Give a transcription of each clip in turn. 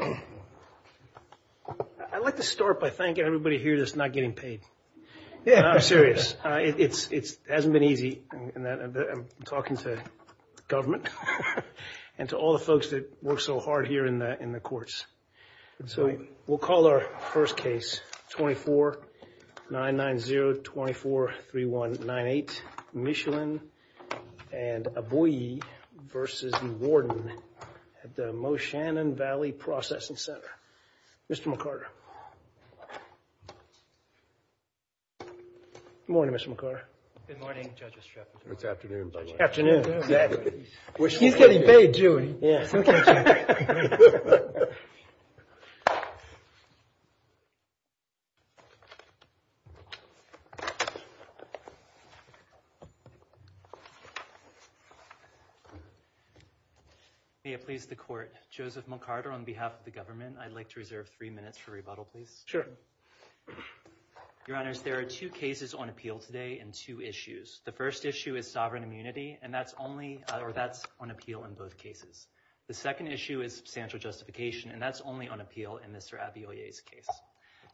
I'd like to start by thanking everybody here that's not getting paid yeah I'm serious it's it hasn't been easy and that I'm talking to government and to all the folks that work so hard here in the in the courts so we'll call our first case 24 990 24 3198 Michelin and a boy versus the warden at the Moshannon Valley Processing Center. Mr. McArthur. Good morning Mr. McArthur. Good morning Judge Estreff. It's afternoon by the way. He's getting paid Judy. May it please the court Joseph McArthur on behalf of the government I'd like to reserve three minutes for rebuttal please. Sure. Your honors there are two cases on appeal today and two issues the first issue is sovereign immunity and that's only or that's on appeal in both cases. The second issue is substantial justification and that's only on appeal in Mr. Abiyoye's case.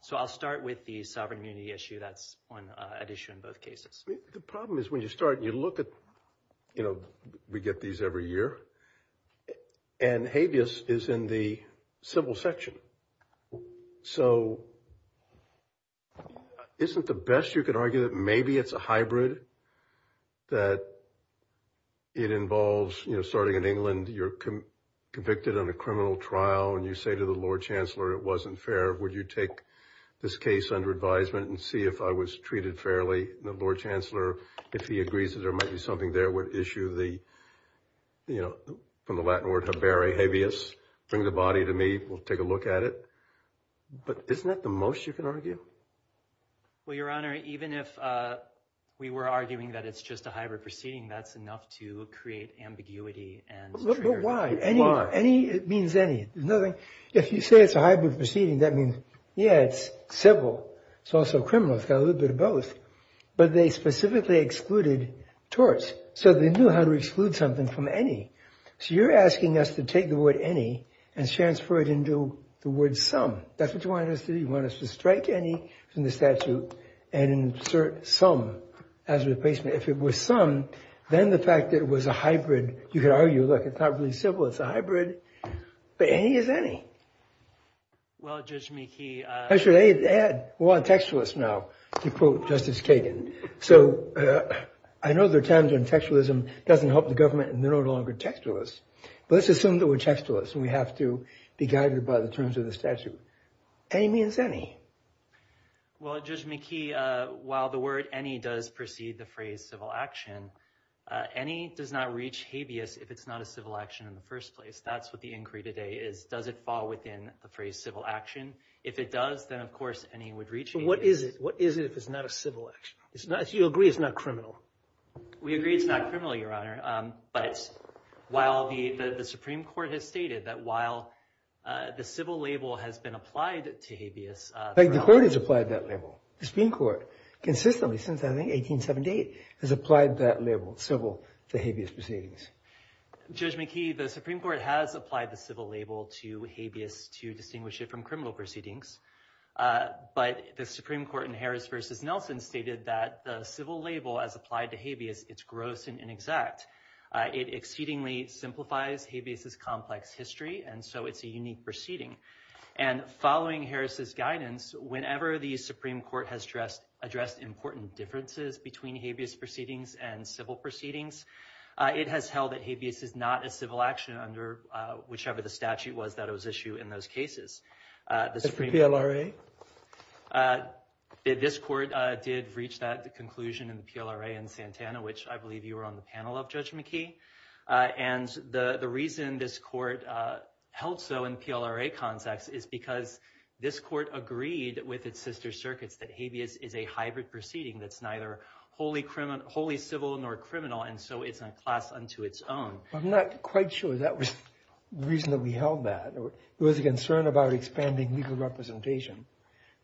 So I'll start with the sovereign immunity issue that's on an issue in both cases. The problem is when you start you look at you know we get these every year and habeas is in the civil section so isn't the best you could argue that maybe it's a hybrid that it involves you know starting in England you're convicted on a criminal trial and you say to the Lord Chancellor it wasn't fair would you take this case under advisement and see if I was treated fairly the Lord Chancellor if he agrees that there might be something there would issue the you know from the Latin word have very habeas bring the body to me we'll take a look at it but isn't that the most you can argue well your honor even if we were arguing that it's just a hybrid proceeding that's enough to create ambiguity and why any any it means any nothing if you say it's a hybrid proceeding that means yeah it's civil it's also criminal it's got a little bit of both but they specifically excluded torts so they knew how to exclude something from any so you're asking us to take the word any and transfer it into the word some that's what you want us to do you want us to strike any from the statute and insert some as a replacement if it was some then the fact that it was a hybrid you could argue look it's not really simple it's a hybrid but any is any well just me key I should add one textualist now to quote Justice Kagan so I know there times when textualism doesn't help the government and they're no longer textualist but let's assume that we're textualist we have to be guided by the to the statute a means any well just me key while the word any does precede the phrase civil action any does not reach habeas if it's not a civil action in the first place that's what the inquiry today is does it fall within the phrase civil action if it does then of course any would reach what is it what is it if it's not a civil action it's nice you agree it's not criminal we agree it's not criminal your honor but while the the Supreme Court has stated that while the civil label has been applied to habeas like the court has applied that level the Supreme Court consistently since I think 1878 has applied that label civil the habeas proceedings judge McKee the Supreme Court has applied the civil label to habeas to distinguish it from criminal proceedings but the Supreme Court in Harris versus Nelson stated that the civil label as applied to habeas it's gross and inexact it exceedingly simplifies habeas is complex history and so it's a unique proceeding and following Harris's guidance whenever the Supreme Court has dressed addressed important differences between habeas proceedings and civil proceedings it has held that habeas is not a civil action under whichever the statute was that it was issue in those cases the Supreme Court this court did reach that the conclusion in the PLRA and Santana which I believe you were on the panel of judge McKee and the the reason this court held so in PLRA context is because this court agreed with its sister circuits that habeas is a hybrid proceeding that's neither wholly criminal wholly civil nor criminal and so it's a class unto its own I'm not quite sure that was the reason that we held that there was a concern about expanding legal representation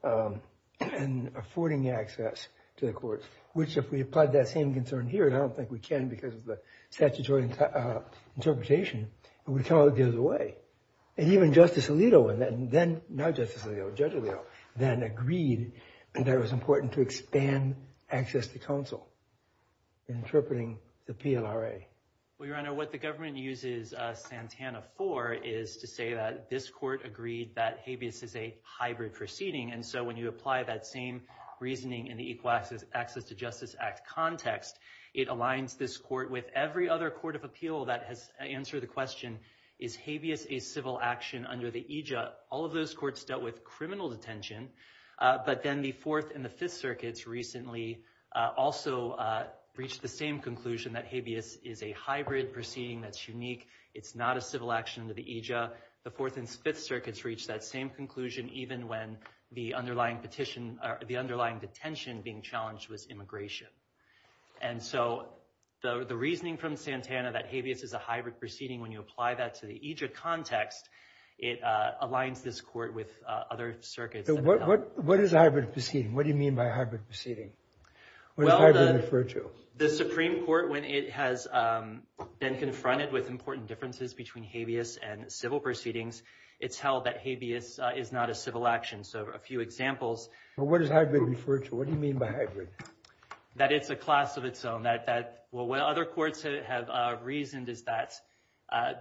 and affording access to the court which if we applied that same concern here and I don't think we can because of the statutory interpretation and we tell it gives away and even justice Alito and then then now justicially Oh judge Leo then agreed and there was important to expand access to counsel interpreting the PLRA well your honor what the government uses Santana for is to say that this court agreed that habeas is a hybrid proceeding and so when you apply that same reasoning in the equal access access to Justice Act context it aligns this court with every other Court of Appeal that has answered the question is habeas a civil action under the EJ all of those courts dealt with criminal detention but then the fourth and the fifth circuits recently also reached the same conclusion that habeas is a hybrid proceeding that's unique it's not a civil action to the EJ the fourth and fifth circuits reached that same conclusion even when the underlying petition the underlying detention being challenged was immigration and so the the reasoning from Santana that habeas is a hybrid proceeding when you apply that to the Egypt context it aligns this court with other circuits what what what is a hybrid proceeding what do you mean by hybrid proceeding when I refer to the Supreme Court when it has been confronted with important differences between habeas and civil proceedings it's held that habeas is not a civil action so a few examples what does hybrid refer to what do you mean by hybrid that it's a class of its own that that well what other courts have reasoned is that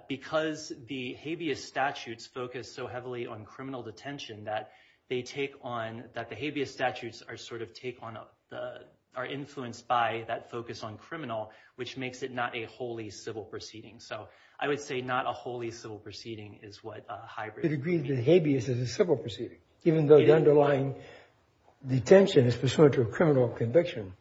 because the habeas statutes focus so heavily on criminal detention that they take on that the habeas statutes are sort of take on up the are influenced by that focus on criminal which makes it not a wholly civil proceeding so I would say not a wholly civil proceeding is what hybrid agree that habeas is a civil proceeding even though the underlying detention is pursuant to a criminal conviction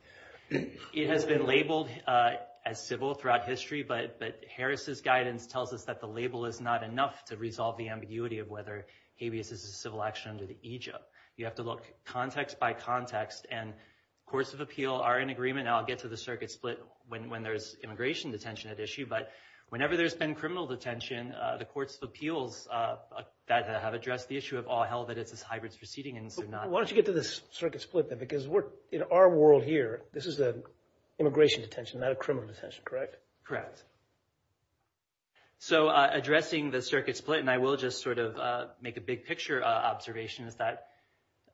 it has been labeled as civil throughout history but but Harris's guidance tells us that the label is not enough to resolve the ambiguity of whether habeas is a civil action under the Egypt you have to look context by context and courts of appeal are in agreement I'll get to the circuit split when there's immigration detention at issue but whenever there's been criminal detention the courts of appeals that have addressed the issue of all hell that it's this hybrids proceeding and so not why don't you get to this circuit split that because we're in our world here this is the immigration detention not a criminal detention correct correct so addressing the circuit split and I will just sort of make a big picture observation is that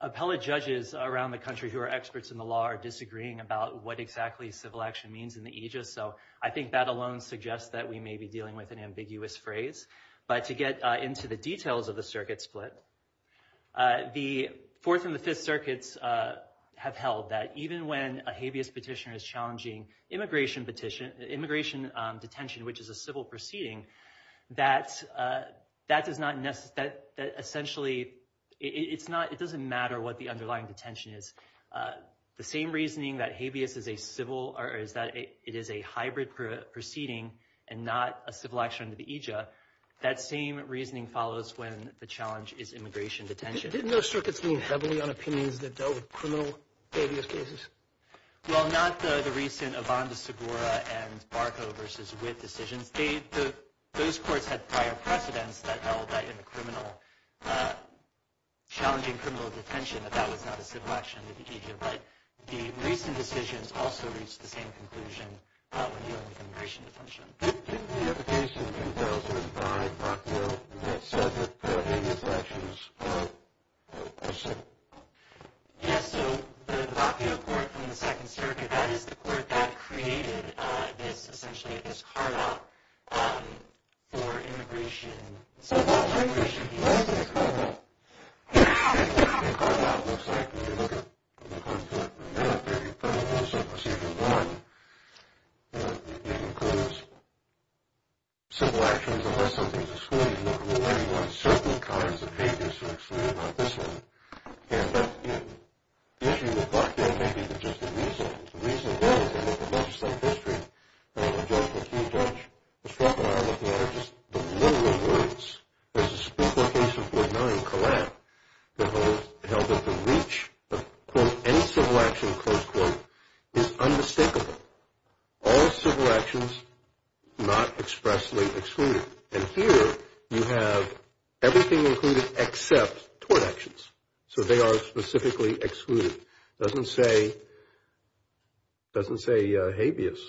appellate judges around the country who are experts in the law are disagreeing about what exactly civil action means in the ages so I think that alone suggests that we may be dealing with an ambiguous phrase but to get into the details of the circuit split the fourth and the fifth circuits have held that even when a habeas petitioner is challenging immigration petition immigration detention which is a civil proceeding that that does not necessarily it's not it doesn't matter what the underlying detention is the same reasoning that habeas is a civil or is that it is a hybrid proceeding and not a civil action to the aegis that same reasoning follows when the challenge is immigration detention didn't know circuits mean heavily on opinions that dealt with criminal cases well not the the recent of on the subora and Barco versus with decisions they took those courts had prior precedents that held that in the criminal challenging criminal detention that that was not a civil action to the agent but the recent decisions also reach the same conclusion everything except so they are specifically excluded doesn't say doesn't say habeas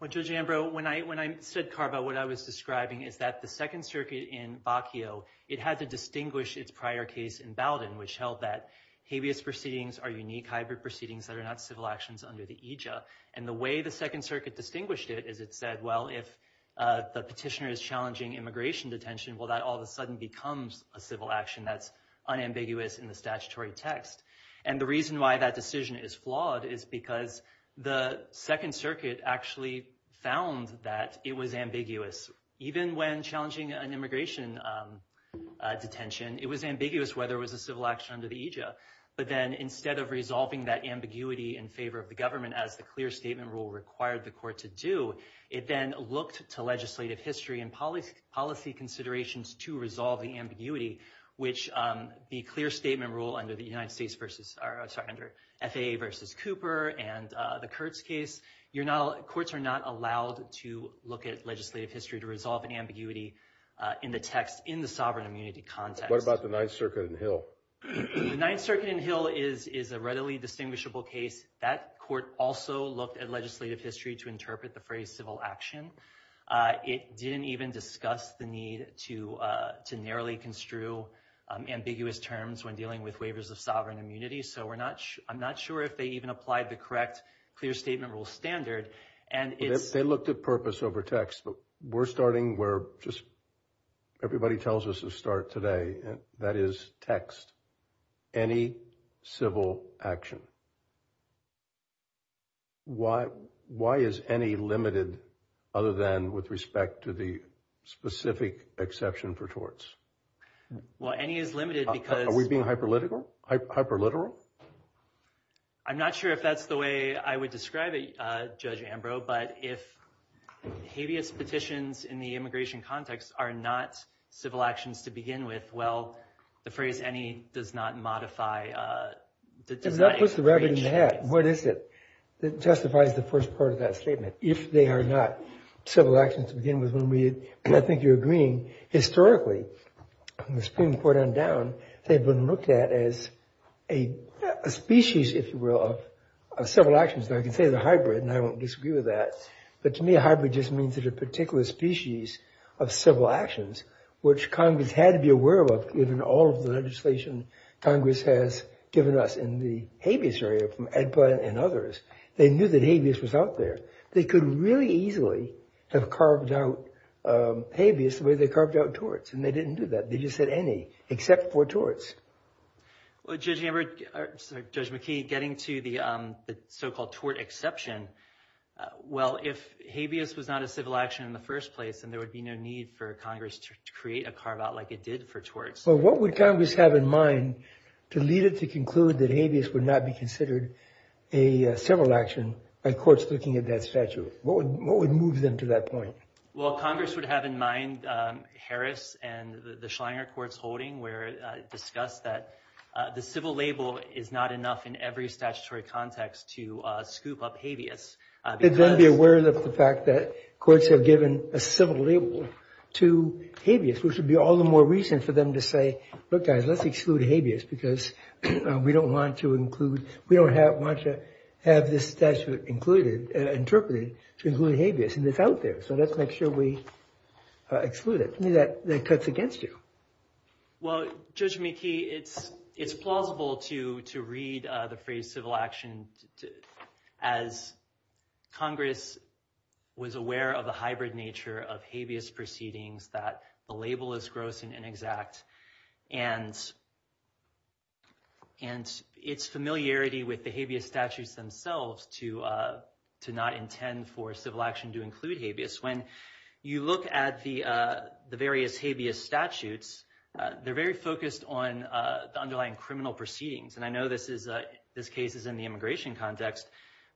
when I when I said car but what I was describing is that the Second Circuit in Bakio it had to distinguish its prior case in Bowden which held that habeas proceedings are unique hybrid proceedings that are not actions under the aegis and the way the Second Circuit distinguished it is it said well if the petitioner is challenging immigration detention well that all of a sudden becomes a civil action that's unambiguous in the statutory text and the reason why that decision is flawed is because the Second Circuit actually found that it was ambiguous even when challenging an immigration detention it was ambiguous whether it was a civil action under the but then instead of resolving that ambiguity in favor of the government as the clear statement rule required the court to do it then looked to legislative history and policy policy considerations to resolve the ambiguity which the clear statement rule under the United States versus our under FAA versus Cooper and the Kurtz case you're not courts are not allowed to look at legislative history to resolve an ambiguity in the text in the sovereign immunity context what the Ninth Circuit in Hill the Ninth Circuit in Hill is is a readily distinguishable case that court also looked at legislative history to interpret the phrase civil action it didn't even discuss the need to to narrowly construe ambiguous terms when dealing with waivers of sovereign immunity so we're not I'm not sure if they even applied the correct clear statement rule standard and if they looked at purpose over text but we're starting where just everybody tells us to start today and that is text any civil action why why is any limited other than with respect to the specific exception for torts well any is limited because we've been hyper literal hyper literal I'm not sure if that's the way I would describe a judge Ambrose but if habeas petitions in the immigration context are not civil actions to begin with well the phrase any does not modify that does that puts the rabbit in the hat what is it that justifies the first part of that statement if they are not civil action to begin with when we I think you're agreeing historically on the Supreme Court on down they've been looked at as a species if you will of several actions that I can say the hybrid and I won't disagree with that but to me a hybrid just means that a particular species of civil actions which Congress had to be aware of given all of the legislation Congress has given us in the habeas area from ed plan and others they knew that habeas was out there they could really easily have carved out habeas the way they carved out torts and they didn't do that they just said any except for torts well judge Amber judge McKee getting to the so-called tort exception well if habeas was not a civil action in the first place and there would be no need for Congress to create a carve-out like it did for torts well what would Congress have in mind to lead it to conclude that habeas would not be considered a civil action by courts looking at that statute what would move them to that point well Congress would have in mind Harris and the Schleier courts holding where discussed that the civil label is not enough in every statutory context to scoop up habeas it's gonna be aware of the fact that courts have given a civil label to habeas which would be all the more reason for them to say look guys let's exclude habeas because we don't want to include we don't have much to have this statute included interpreted to include habeas and it's out there so let's make sure we exclude it that that cuts against you well judge McKee it's it's plausible to to read the phrase civil action as Congress was aware of a hybrid nature of habeas proceedings that the label is gross and inexact and and its familiarity with the habeas statutes themselves to to not intend for civil action to include habeas when you look at the the various habeas statutes they're very focused on the underlying criminal proceedings and I know this is this case is in the immigration context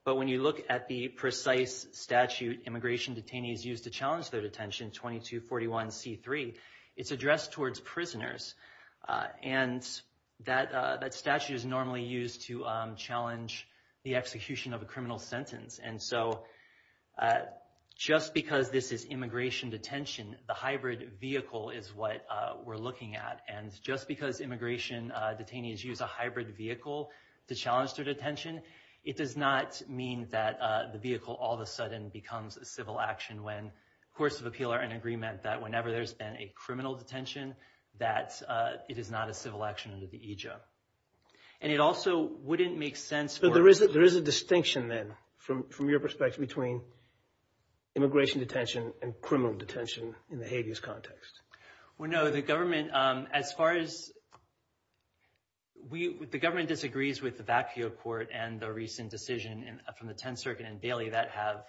but when you look at the precise statute immigration detainees used to challenge their detention 2241 c3 it's addressed towards prisoners and that that statute is normally used to challenge the execution of a criminal sentence and so just because this is immigration detention the hybrid vehicle is what we're looking at and just because immigration detainees use a hybrid vehicle to challenge their detention it does not mean that the vehicle all of a sudden becomes a civil action when courts of appeal are in agreement that whenever there's been a criminal detention that it is not a civil action under the aegis and it also wouldn't make sense but there is that there is a distinction then from from your perspective between immigration detention and criminal detention in the habeas context well no the government as far as we the government disagrees with the back view of court and the recent decision from the 10th Circuit and Bailey that have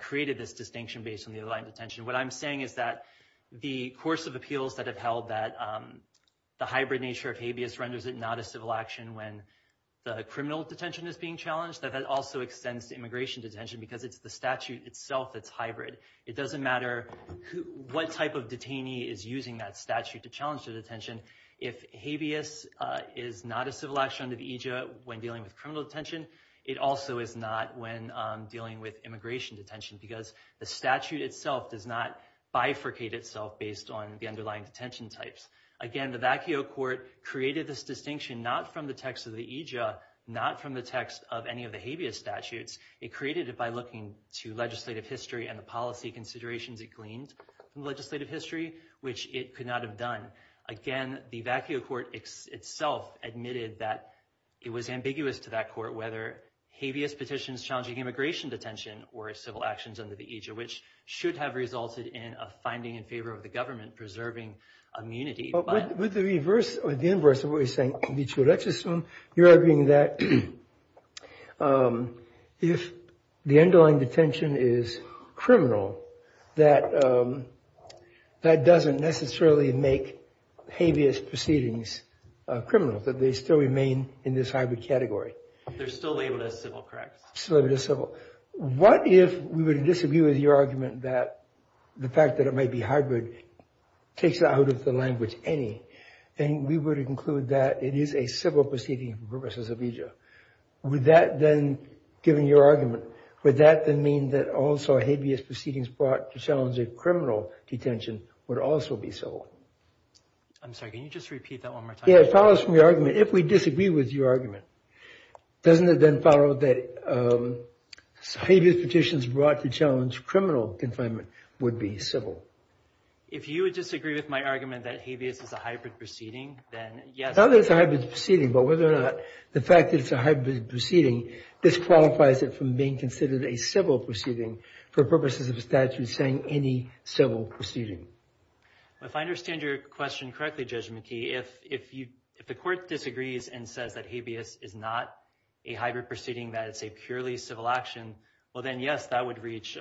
created this distinction based on the other line detention what I'm saying is that the course of appeals that have held that the hybrid nature of renders it not a civil action when the criminal detention is being challenged that that also extends to immigration detention because it's the statute itself that's hybrid it doesn't matter what type of detainee is using that statute to challenge the detention if habeas is not a civil action to the Egypt when dealing with criminal detention it also is not when dealing with immigration detention because the statute itself does not bifurcate itself based on the underlying detention types again the vacuo court created this distinction not from the text of the aegis not from the text of any of the habeas statutes it created it by looking to legislative history and the policy considerations it gleaned legislative history which it could not have done again the vacuo court itself admitted that it was ambiguous to that court whether habeas petitions challenging immigration detention or civil actions under the aegis which should have resulted in a finding in favor of the government preserving immunity but with the reverse or the inverse of what he's saying you're arguing that if the underlying detention is criminal that that doesn't necessarily make habeas proceedings criminal that they still in this hybrid category what if we would disagree with your argument that the fact that it may be hybrid takes out of the language any and we would include that it is a civil proceeding versus a visa would that then given your argument would that then mean that also habeas proceedings brought to challenge a criminal detention would also be so I'm sorry can you just repeat that one more follows from your argument if we disagree with your argument doesn't it then follow that habeas petitions brought to challenge criminal confinement would be civil if you would disagree with my argument that habeas is a hybrid proceeding then yes now there's a hybrid proceeding but whether or not the fact that it's a hybrid proceeding this qualifies it from being considered a civil proceeding for purposes of a statute saying any civil proceeding if I your question correctly judgment key if if you if the court disagrees and says that habeas is not a hybrid proceeding that it's a purely civil action well then yes that would reach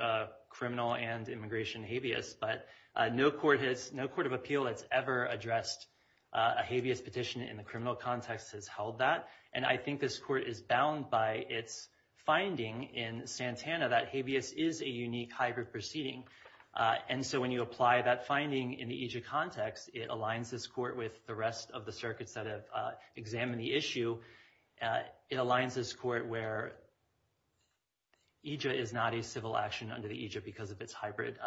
criminal and immigration habeas but no court has no court of appeal that's ever addressed a habeas petition in the criminal context has held that and I think this court is bound by its finding in Santana that habeas is a unique hybrid proceeding and so when you apply that finding in the context it aligns this court with the rest of the circuits that have examined the issue it aligns this court where EG is not a civil action under the Egypt because of its hybrid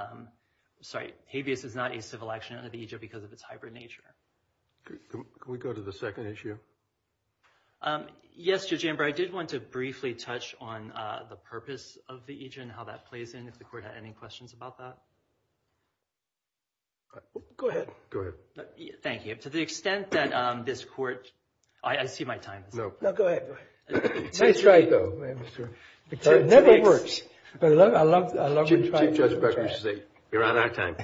sorry habeas is not a civil action under the Egypt because of its hybrid nature can we go to the second issue yes your chamber I did want to briefly touch on the purpose of the agent how that plays in if the any questions about that go ahead go ahead thank you to the extent that this court I see my time no no go ahead it's right though it never works but I love I love to try to say you're on our time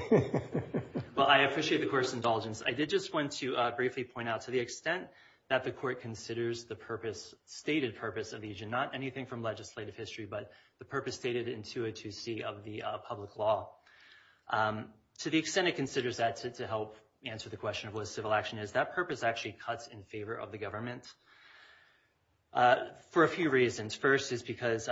well I appreciate the course indulgence I did just want to briefly point out to the extent that the court considers the purpose stated purpose of the agent not anything from legislative history but the purpose stated in 202 C of the public law to the extent it considers that to help answer the question of what civil action is that purpose actually cuts in favor of the government for a few reasons first is because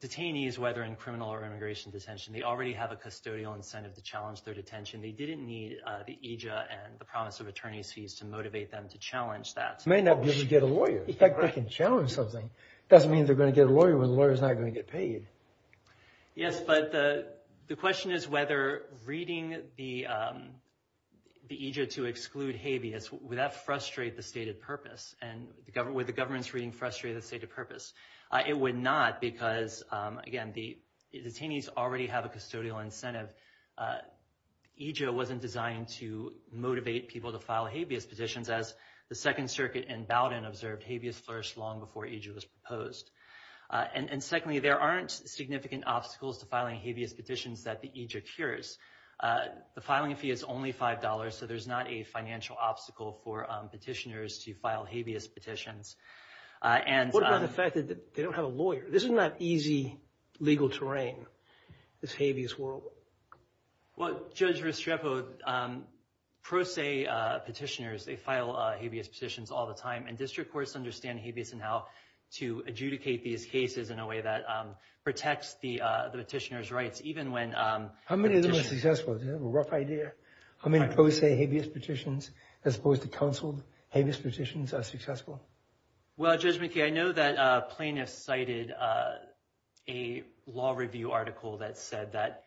detainees whether in criminal or immigration detention they already have a custodial incentive to challenge their detention they didn't need the EG and the promise of attorneys fees to motivate them to challenge that may not give you get a lawyer if I can challenge something doesn't mean they're going to get a get paid yes but the the question is whether reading the the Egypt to exclude habeas would that frustrate the stated purpose and the government with the government's reading frustrated say to purpose it would not because again the detainees already have a custodial incentive EG wasn't designed to motivate people to file habeas petitions as the Second Circuit in Bowdoin observed habeas first long before EG was proposed and and secondly there aren't significant obstacles to filing habeas petitions that the EG occurs the filing fee is only $5 so there's not a financial obstacle for petitioners to file habeas petitions and the fact that they don't have a lawyer this is not easy legal terrain this habeas world well Judge Restrepo pro se petitioners they file habeas petitions all the time and district courts understand habeas and how to adjudicate these cases in a way that protects the the petitioners rights even when how many of them are successful a rough idea I mean pro se habeas petitions as opposed to counseled habeas petitions are successful well Judge McKee I know that plaintiffs cited a law review article that said that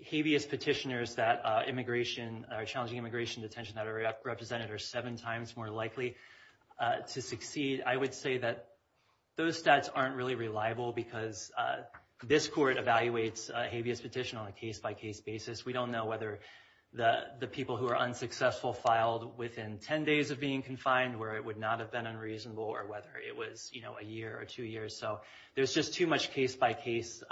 habeas petitioners that immigration are challenging immigration detention that representative seven times more likely to succeed I would say that those stats aren't really reliable because this court evaluates habeas petition on a case-by-case basis we don't know whether the the people who are unsuccessful filed within 10 days of being confined where it would not have been unreasonable or whether it was you know a year or two years so there's just too much case-by-case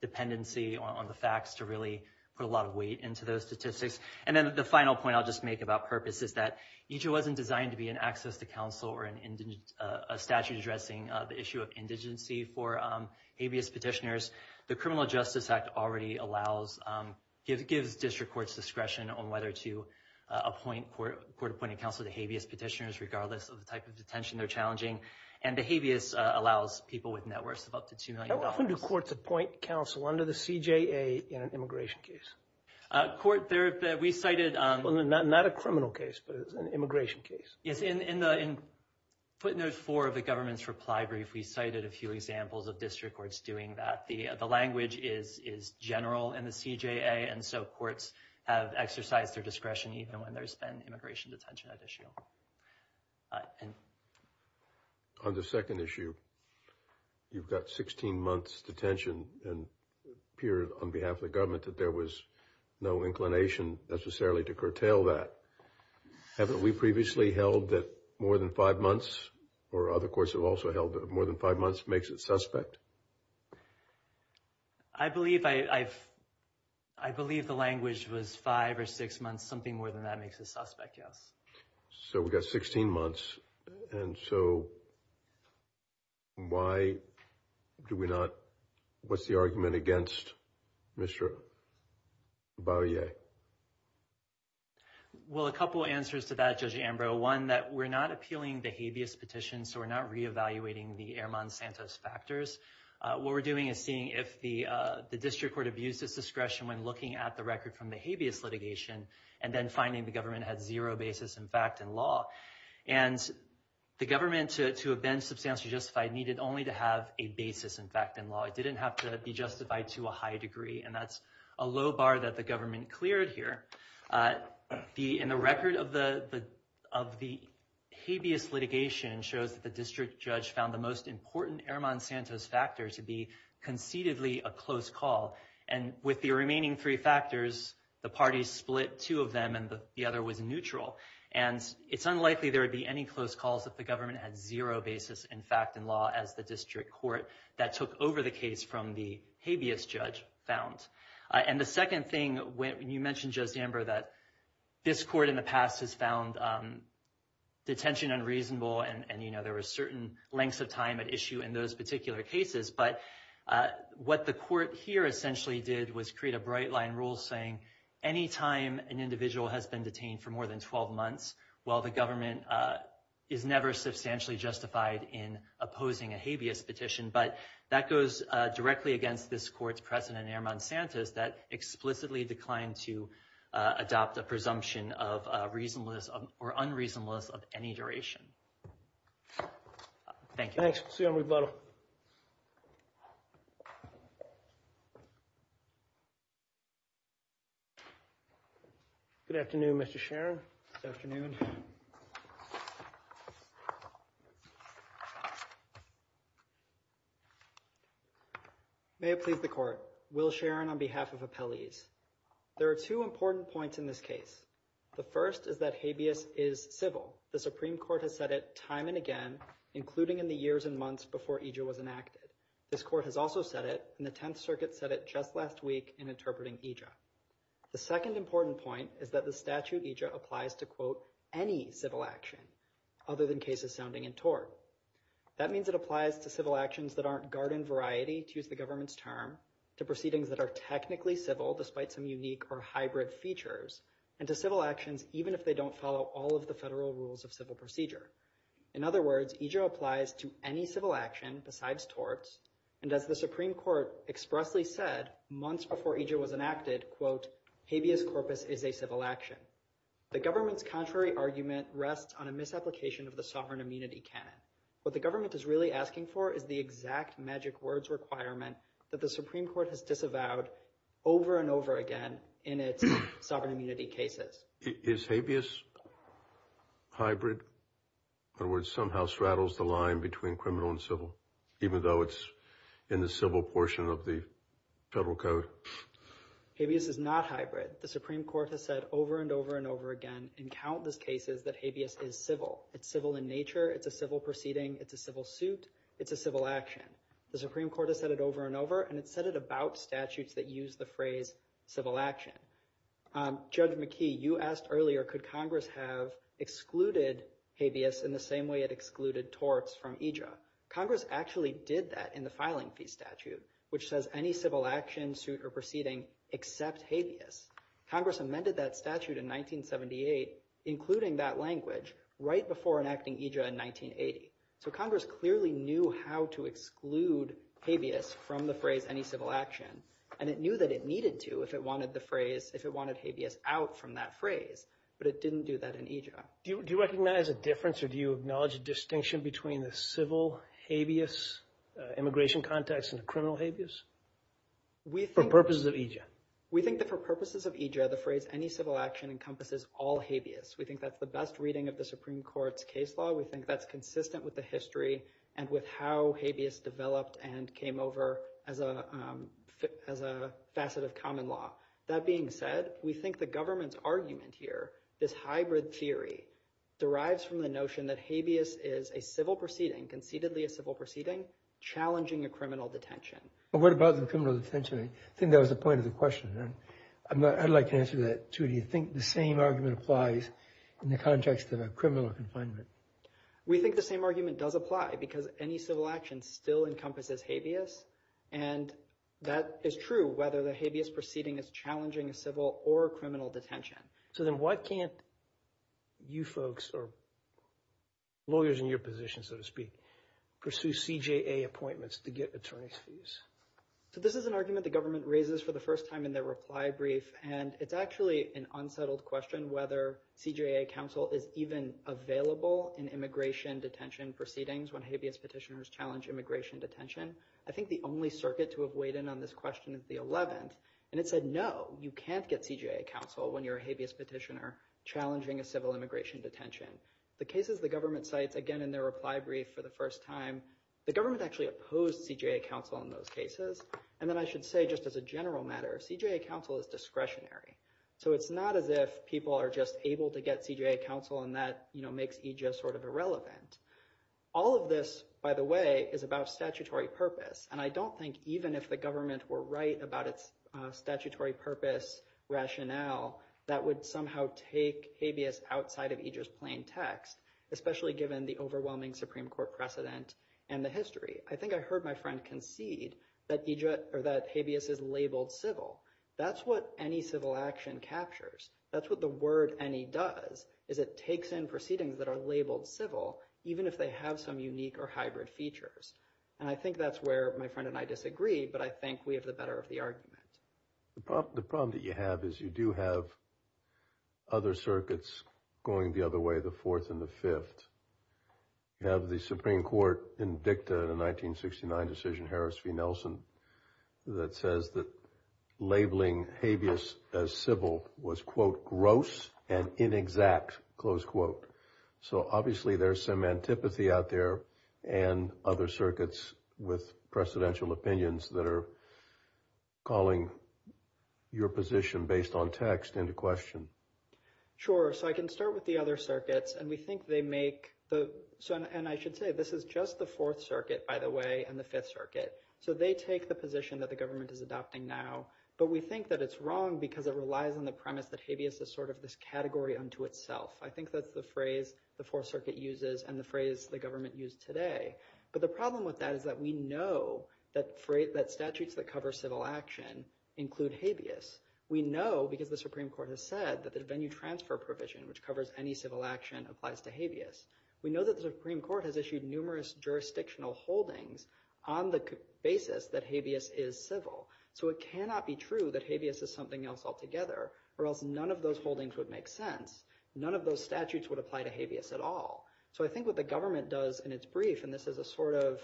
dependency on the facts to really put a lot of weight into those statistics and then the final point I'll just make about purpose is that each it wasn't designed to be an access to counsel or an indigent a statute addressing the issue of indigency for habeas petitioners the Criminal Justice Act already allows it gives district courts discretion on whether to appoint court appointed counsel to habeas petitioners regardless of the type of detention they're challenging and the habeas allows people with networks of up to two million often do courts appoint counsel under the CJA in an immigration case court there that we cited on the not not a criminal case but it's an immigration case yes in in the in putting those four of the government's reply brief we cited a few examples of district courts doing that the the language is is general in the CJA and so courts have exercised their discretion even when there's been immigration detention at issue and on the second issue you've got 16 months detention and period on behalf of the government that there was no inclination necessarily to curtail that haven't we previously held that more than five months or other courts have also held more than five months makes it suspect I believe I I've I believe the language was five or six months something more than that makes a suspect yes so we got 16 months and so why do we not what's the argument against mr. bar yeah well a couple answers to that judge Ambrose one that we're not appealing the habeas petition so we're not re-evaluating the Airman Santos factors what we're doing is seeing if the the district court abuses discretion when looking at the record from the habeas litigation and then finding the government had zero basis in fact in law and the government to have been substantially justified needed only to have a basis in fact in law it didn't have to be justified to a high degree and that's a low bar that the government cleared here the in the record of the of the habeas litigation shows that the district judge found the most important Airman Santos factor to be concededly a close call and with the remaining three factors the parties split two of them and the other was neutral and it's unlikely there would be any close calls if the government had zero basis in fact in law as the district court that took over the case from the habeas judge found and the second thing when you mentioned just amber that this court in the past has found detention unreasonable and you know there were certain lengths of time at issue in those particular cases but what the court here essentially did was create a bright line rule saying anytime an individual has been detained for more than 12 months while the government is never substantially justified in opposing a habeas petition but that goes directly against this courts president airman Santos that explicitly declined to adopt a presumption of reasonless or unreasonableness of any duration thank you thanks see on rebuttal good afternoon mr. Sharon afternoon may it please the court will Sharon on behalf of appellees there are two important points in this case the first is that habeas is civil the Supreme Court has it time and again including in the years and months before EJ was enacted this court has also said it in the Tenth Circuit said it just last week in interpreting EJ the second important point is that the statute EJ applies to quote any civil action other than cases sounding in tort that means it applies to civil actions that aren't garden variety to use the government's term to proceedings that are technically civil despite some unique or hybrid features and to civil actions even if they don't follow all of the federal rules of civil procedure in other words EJ applies to any civil action besides torts and as the Supreme Court expressly said months before EJ was enacted quote habeas corpus is a civil action the government's contrary argument rests on a misapplication of the sovereign immunity canon but the government is really asking for is the exact magic words requirement that the Supreme Court has avowed over and over again in its sovereign immunity cases is habeas hybrid or words somehow straddles the line between criminal and civil even though it's in the civil portion of the federal code habeas is not hybrid the Supreme Court has said over and over and over again in countless cases that habeas is civil it's civil in nature it's a civil proceeding it's a civil suit it's a civil action the Supreme Court has said it over and over and it said it about statutes that use the phrase civil action judge McKee you asked earlier could Congress have excluded habeas in the same way it excluded torts from EJ Congress actually did that in the filing fee statute which says any civil action suit or proceeding except habeas Congress amended that statute in 1978 including that language right before enacting EJ in 1980 so Congress clearly knew how to exclude habeas from the phrase any civil action and it knew that it needed to if it wanted the phrase if it wanted habeas out from that phrase but it didn't do that in EJ do you recognize a difference or do you acknowledge a distinction between the civil habeas immigration context and criminal habeas we think purposes of EJ we think that for purposes of EJ the phrase any civil action encompasses all habeas we think that's the best reading of the Supreme Court's case law we think that's consistent with the history and with how habeas developed and came over as a as a facet of common law that being said we think the government's argument here this hybrid theory derives from the notion that habeas is a civil proceeding conceitedly a civil proceeding challenging a criminal detention but what about the criminal detention I think that was the point of the question then I'd like to answer that to do you think the same argument applies in the context of a criminal confinement we think the same argument does apply because any civil action still encompasses habeas and that is true whether the habeas proceeding is challenging a civil or criminal detention so then why can't you folks or lawyers in your position so to speak pursue CJA appointments to get attorneys fees so this is an argument the government raises for the first time in their reply brief and it's actually an unsettled question whether CJA counsel is even available in immigration detention proceedings when habeas petitioners challenge immigration detention I think the only circuit to have weighed in on this question is the 11th and it said no you can't get CJA counsel when you're a habeas petitioner challenging a civil immigration detention the cases the government sites again in their reply brief for the first time the government actually opposed CJA counsel in those cases and then I should say just as a general matter CJA counsel is discretionary so it's not as if people are just able to get CJA counsel and that you know makes Aegis sort of irrelevant all of this by the way is about statutory purpose and I don't think even if the government were right about its statutory purpose rationale that would somehow take habeas outside of Aegis plain text especially given the overwhelming Supreme Court precedent and the history I think I friend concede that Egypt or that habeas is labeled civil that's what any civil action captures that's what the word any does is it takes in proceedings that are labeled civil even if they have some unique or hybrid features and I think that's where my friend and I disagree but I think we have the better of the argument the problem that you have is you do have other circuits going the way the fourth and the fifth you have the Supreme Court in dicta the 1969 decision Harris v Nelson that says that labeling habeas as civil was quote gross and inexact close quote so obviously there's some antipathy out there and other circuits with presidential opinions that are calling your position based on text into question sure so I can start with the other circuits and we think they make the Sun and I should say this is just the Fourth Circuit by the way and the Fifth Circuit so they take the position that the government is adopting now but we think that it's wrong because it relies on the premise that habeas is sort of this category unto itself I think that's the phrase the Fourth Circuit uses and the phrase the government used today but the problem with that is that we know that phrase that statutes that cover civil action include habeas we know because the Supreme Court has said that the venue transfer provision which covers any civil action applies to habeas we know that the Supreme Court has issued numerous jurisdictional holdings on the basis that habeas is civil so it cannot be true that habeas is something else altogether or else none of those holdings would make sense none of those statutes would apply to habeas at all so I think what the government does in its brief and this is a sort of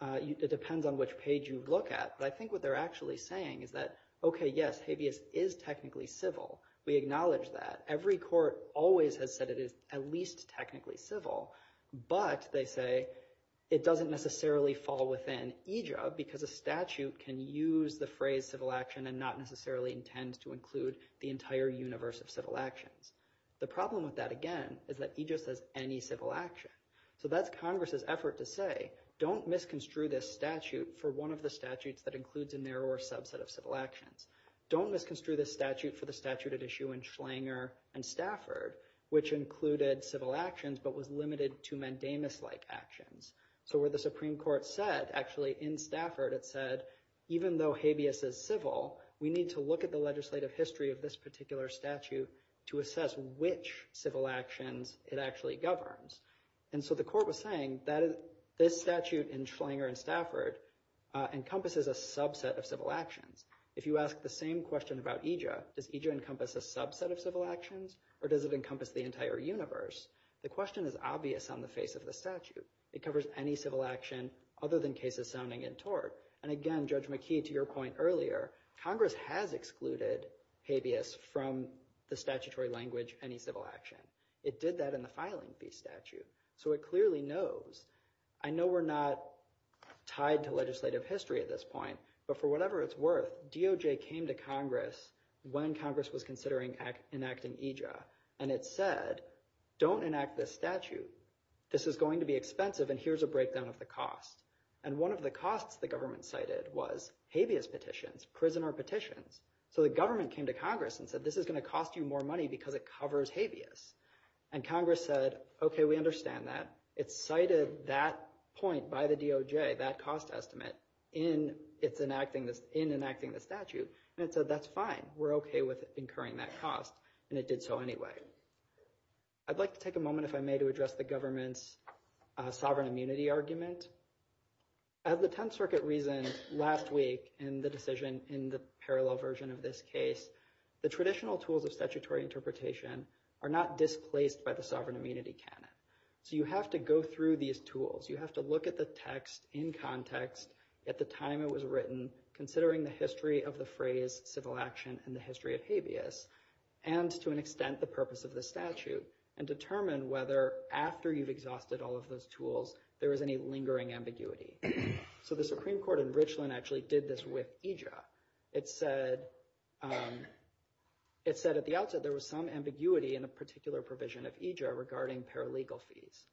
it depends on which page you look at but I think what they're actually saying is that okay yes habeas is technically civil we acknowledge that every court always has said it is at least technically civil but they say it doesn't necessarily fall within a job because a statute can use the phrase civil action and not necessarily intend to include the entire universe of civil actions the problem with that again is that he just has any civil action so that's Congress's effort to say don't misconstrue this statute for one of the statutes that includes a narrower subset of civil actions don't misconstrue this statute for the statute at issue in Schlanger and Stafford which included civil actions but was limited to mandamus like actions so where the Supreme Court said actually in Stafford it said even though habeas is civil we need to look at the legislative history of this particular statute to assess which civil actions it actually governs and so the court was saying that is this statute in Schlanger and Stafford encompasses a subset of civil actions if you ask the same question about EJA does EJA encompass a subset of civil actions or does it encompass the entire universe the question is obvious on the face of the statute it covers any civil action other than cases sounding in tort and again judge McKee to your point earlier Congress has excluded habeas from the statutory language any civil action it did that in the filing fee statute so it clearly knows I know we're not tied to legislative history at this point but for whatever it's worth DOJ came to Congress when Congress was considering enacting EJA and it said don't enact this statute this is going to be expensive and here's a breakdown of the cost and one of the costs the government cited was habeas petitions prisoner petitions so the government came to Congress and said this is going to cost you more money because it covers habeas and Congress said okay we understand that it's cited that point by the DOJ that cost estimate in its enacting this in enacting the statute and it said that's fine we're okay with incurring that cost and it did so anyway I'd like to take a moment if I may to address the government's sovereign immunity argument I have the Tenth Circuit reason last week in the decision in the parallel version of this case the traditional tools of statutory interpretation are not displaced by the sovereign immunity canon so you have to go through these tools you have to look at the text in context at the time it was written considering the history of the phrase civil action and the history of habeas and to an extent the purpose of the statute and determine whether after you've exhausted all of those tools there was any lingering ambiguity so the Supreme Court in Richland actually did this with EJA it said it said at the outset there was some ambiguity in a particular provision of EJA regarding paralegal fees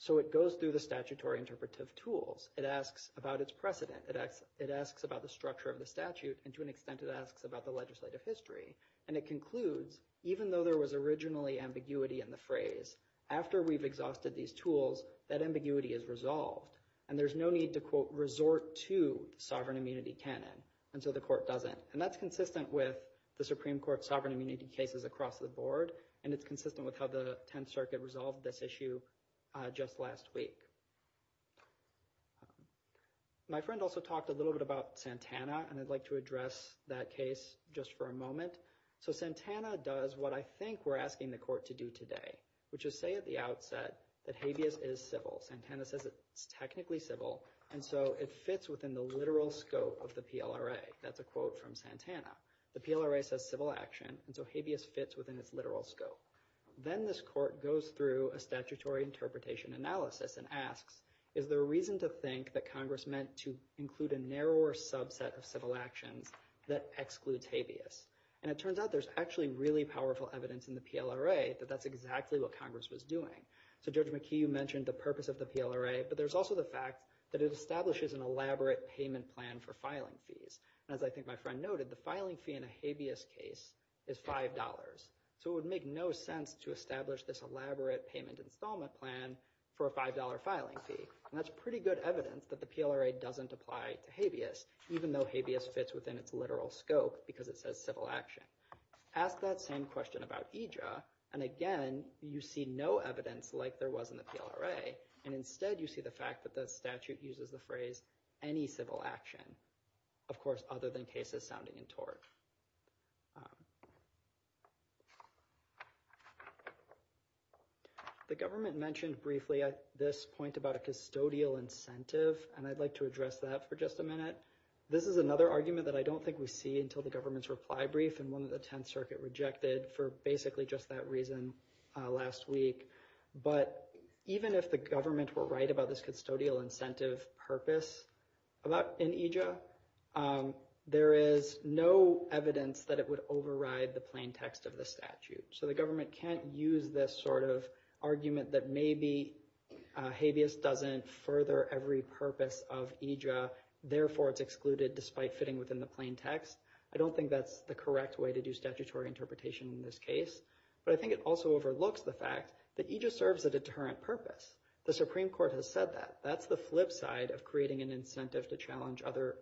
so it goes through the statutory interpretive tools it asks about its precedent it acts it asks about the structure of the statute and to an extent it asks about the legislative history and it concludes even though there was originally ambiguity in the phrase after we've exhausted these tools that ambiguity is resolved and there's no need to quote resort to sovereign immunity canon and so the court doesn't and that's consistent with the Supreme Court sovereign immunity cases across the board and it's consistent with how the Tenth Circuit resolved this issue just last week. My friend also talked a little bit about Santana and I'd like to address that case just for a moment so Santana does what I think we're asking the court to do today which is say at the outset that habeas is civil Santana says it's technically civil and so it fits within the literal scope of the PLRA says civil action and so habeas fits within its literal scope then this court goes through a statutory interpretation analysis and asks is there a reason to think that Congress meant to include a narrower subset of civil actions that excludes habeas and it turns out there's actually really powerful evidence in the PLRA that that's exactly what Congress was doing so Judge McKee you mentioned the purpose of the PLRA but there's also the fact that it establishes an elaborate payment plan for filing fees as I think my noted the filing fee in a habeas case is $5 so it would make no sense to establish this elaborate payment installment plan for a $5 filing fee that's pretty good evidence that the PLRA doesn't apply to habeas even though habeas fits within its literal scope because it says civil action ask that same question about EJA and again you see no evidence like there was in the PLRA and instead you see the fact that the statute uses the phrase any civil action of course other than cases sounding in tort. The government mentioned briefly at this point about a custodial incentive and I'd like to address that for just a minute this is another argument that I don't think we see until the government's reply brief and one of the Tenth Circuit rejected for basically just that reason last week but even if the government were right about this custodial incentive purpose in EJA there is no evidence that it would override the plain text of the statute so the government can't use this sort of argument that maybe habeas doesn't further every purpose of EJA therefore it's excluded despite fitting within the plain text I don't think that's the correct way to do statutory interpretation in this case but I think it also overlooks the fact that EJA serves a deterrent purpose the Supreme Court has said that that's the flip side of creating an incentive to challenge other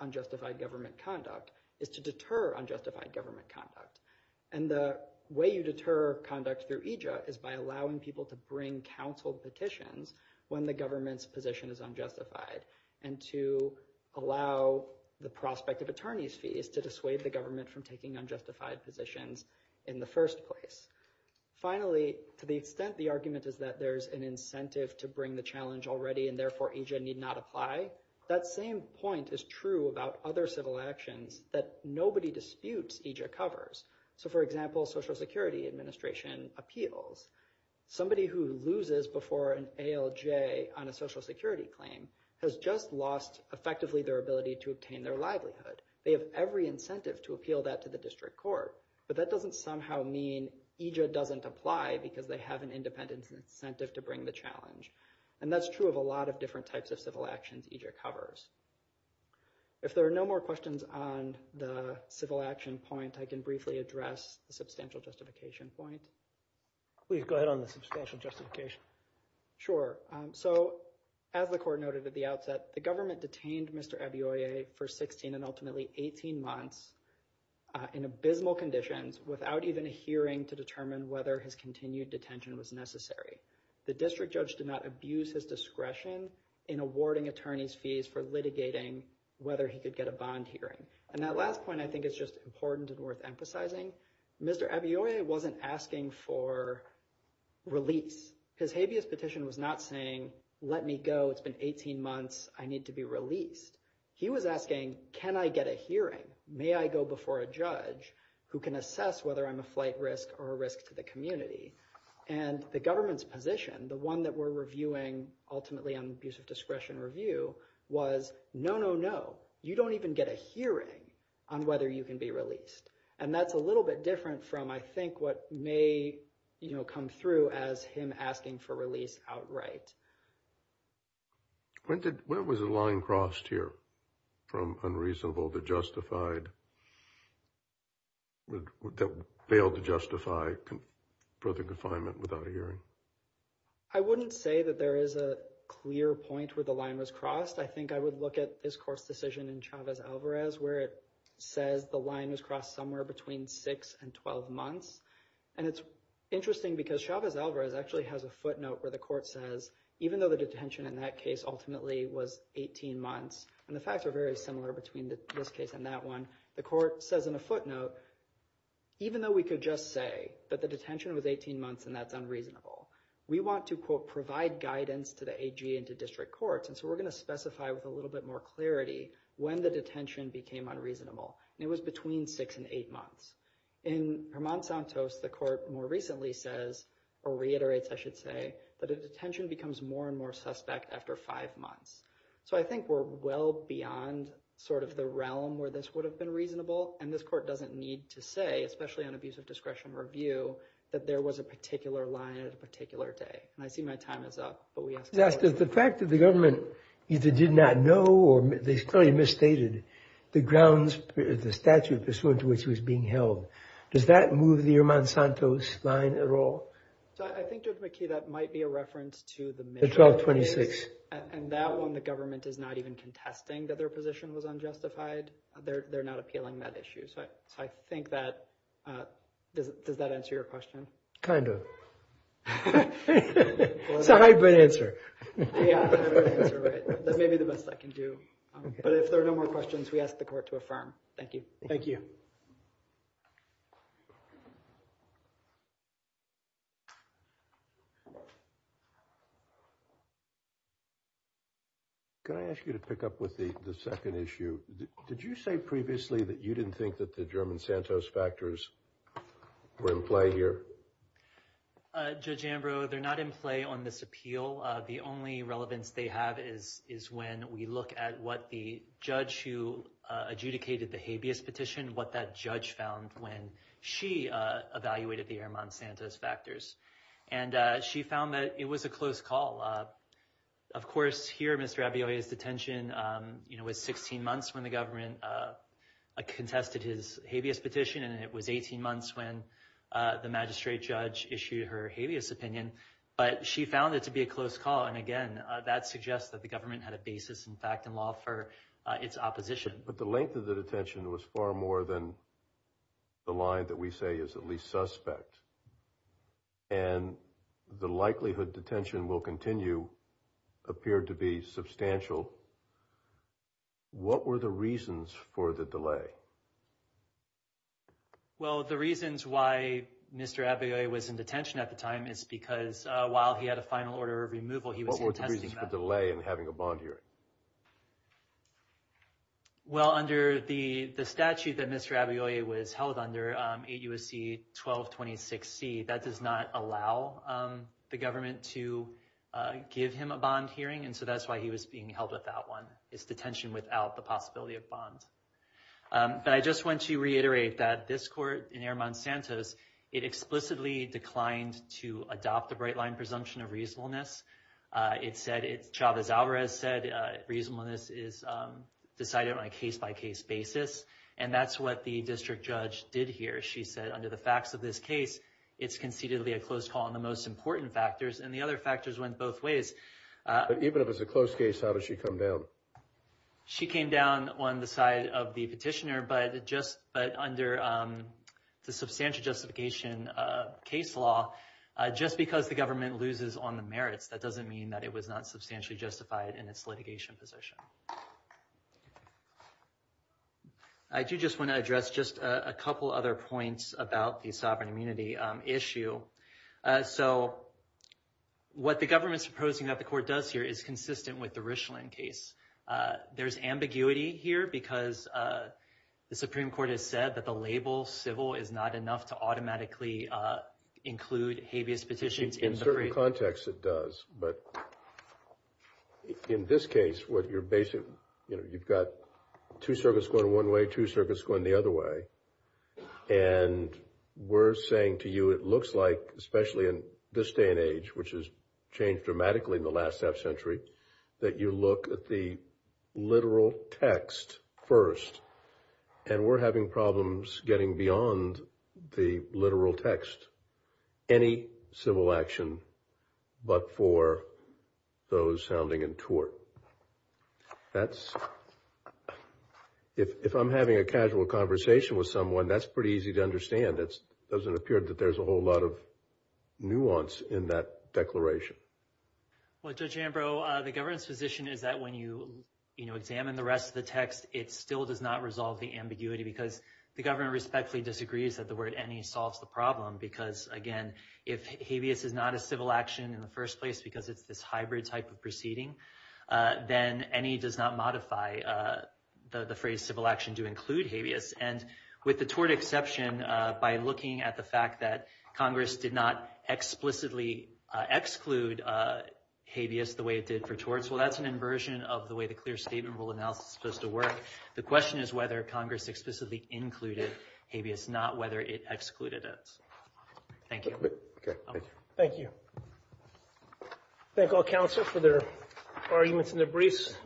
unjustified government conduct is to deter unjustified government conduct and the way you deter conduct through EJA is by allowing people to bring counsel petitions when the government's position is unjustified and to allow the prospect of attorneys fees to dissuade the government from taking unjustified positions in the first place. Finally to the extent the argument is that there's an incentive to bring the challenge already and therefore EJA need not apply that same point is true about other civil actions that nobody disputes EJA covers so for example Social Security Administration appeals somebody who loses before an ALJ on a social security claim has just lost effectively their ability to obtain their livelihood they have every incentive to appeal that to the district court but that doesn't somehow mean EJA doesn't apply because they have an independent incentive to bring the challenge and that's true of a lot of different types of civil actions EJA covers. If there are no more questions on the civil action point I can briefly address the substantial justification point. Please go ahead on the substantial justification. Sure so as the court noted at the outset the government detained Mr. Abiyoye for 16 and ultimately 18 months in abysmal conditions without even a hearing to determine whether his continued detention was necessary. The district judge did not abuse his discretion in awarding attorneys fees for litigating whether he could get a bond hearing and that last point I think is just important and worth emphasizing Mr. Abiyoye wasn't asking for release his habeas petition was not saying let me go it's been 18 months I need to be released he was asking can I get a hearing may I go before a judge who can assess whether I'm a flight risk or a risk to the community and the government's position the one that we're reviewing ultimately on abuse of discretion review was no no no you don't even get a hearing on whether you can be released and that's a little bit different from I think what may you know come through as him asking for release outright. When did where was the line crossed here from unreasonable to justified that failed to justify further confinement without a hearing? I wouldn't say that there is a clear point where the line was crossed I think I would look at this court's decision in Chavez Alvarez where it says the line was crossed somewhere between 6 and 12 months and it's interesting because Chavez Alvarez actually has a footnote where the court says even though the detention in that case ultimately was 18 months and the facts are very similar between this case and that one the court says in a footnote even though we could just say that the detention was 18 months and that's unreasonable we want to quote provide guidance to the AG and to district courts and so we're gonna specify with a little bit more clarity when the detention became unreasonable and it was between 6 and 8 months. In Herman Santos the court more recently says or reiterates I should say that a detention becomes more and more suspect after five months so I think we're well beyond sort of the realm where this would have been reasonable and this court doesn't need to say especially on abuse of discretion review that there was a particular line at a particular day and I see my time is up. The fact that the government either did not know or they clearly misstated the grounds the statute pursuant to which was being held does that move the Herman Santos line at all? I think Judge McKee that might be a reference to the 1226 and that one the government is not even contesting that their position was unjustified they're not appealing that issue so I think that does that answer your question? Kind of. It's a hybrid answer. That may be the best I can do but if there are no more questions we ask the court to affirm. Thank you. Thank you. Can I ask you to pick up with the the second issue? Did you say previously that you didn't think that the German Santos factors were in play here? Judge Ambrose they're not in play on this appeal the only relevance they have is is when we look at what the judge who adjudicated the habeas petition what that judge found when she evaluated the Herman Santos factors and she found that it was a close call. Of course here Mr. Abiyoye's detention you know was 16 months when the government contested his habeas petition and it was 18 months when the magistrate judge issued her habeas opinion but she found it to be a close call and again that suggests that the government had a basis in fact in law for its opposition. But the length of the detention was far more than the line that we say is at least suspect and the likelihood detention will continue appeared to be substantial. What were the reasons for the delay? Well the reasons why Mr. Abiyoye was in detention at the time is because while he had a final order of removal he was in testing. What were the reasons for the delay in having a bond hearing? Well under the the statute that Mr. Abiyoye was held under 8 U.S.C. 1226 C that does not allow the government to give him a bond hearing and so that's why he was being held without one it's detention without the possibility of bonds. But I just want to reiterate that this court in Herman Santos it explicitly declined to adopt the bright line presumption of reasonableness it said it's Chavez Alvarez said reasonableness is decided on a case-by-case basis and that's what the district judge did here she said under the facts of this case it's concededly a close call on the most important factors and the other factors went both ways. Even if it's a close case how does she come down? She came down on the side of the petitioner but just but under the substantial justification of case law just because the government loses on the merits that doesn't mean that it was not substantially justified in its litigation position. I do just want to address just a couple other points about the sovereign immunity issue. So what the government's proposing that the court does here is consistent with the Richland case. There's ambiguity here because the Supreme Court has said that the label civil is not enough to automatically include habeas petitions. In certain contexts it does but in this case what your basic you know you've got two circuits going one way two circuits going the other way and we're saying to you it looks like especially in this day and age which has changed dramatically in the last half century that you look at the literal text first and we're having problems getting beyond the literal text. Any civil action but for those sounding in tort. That's if I'm having a casual conversation with someone that's pretty easy to understand it doesn't appear that there's a whole lot of nuance in that declaration. Well when you you know examine the rest of the text it still does not resolve the ambiguity because the government respectfully disagrees that the word any solves the problem because again if habeas is not a civil action in the first place because it's this hybrid type of proceeding then any does not modify the phrase civil action to include habeas and with the tort exception by looking at the fact that Congress did not explicitly exclude habeas the way it did for torts. Well that's an inversion of the way the clear statement rule analysis supposed to work. The question is whether Congress explicitly included habeas not whether it excluded it. Thank you. Thank you. Thank all counsel for their arguments and their briefs.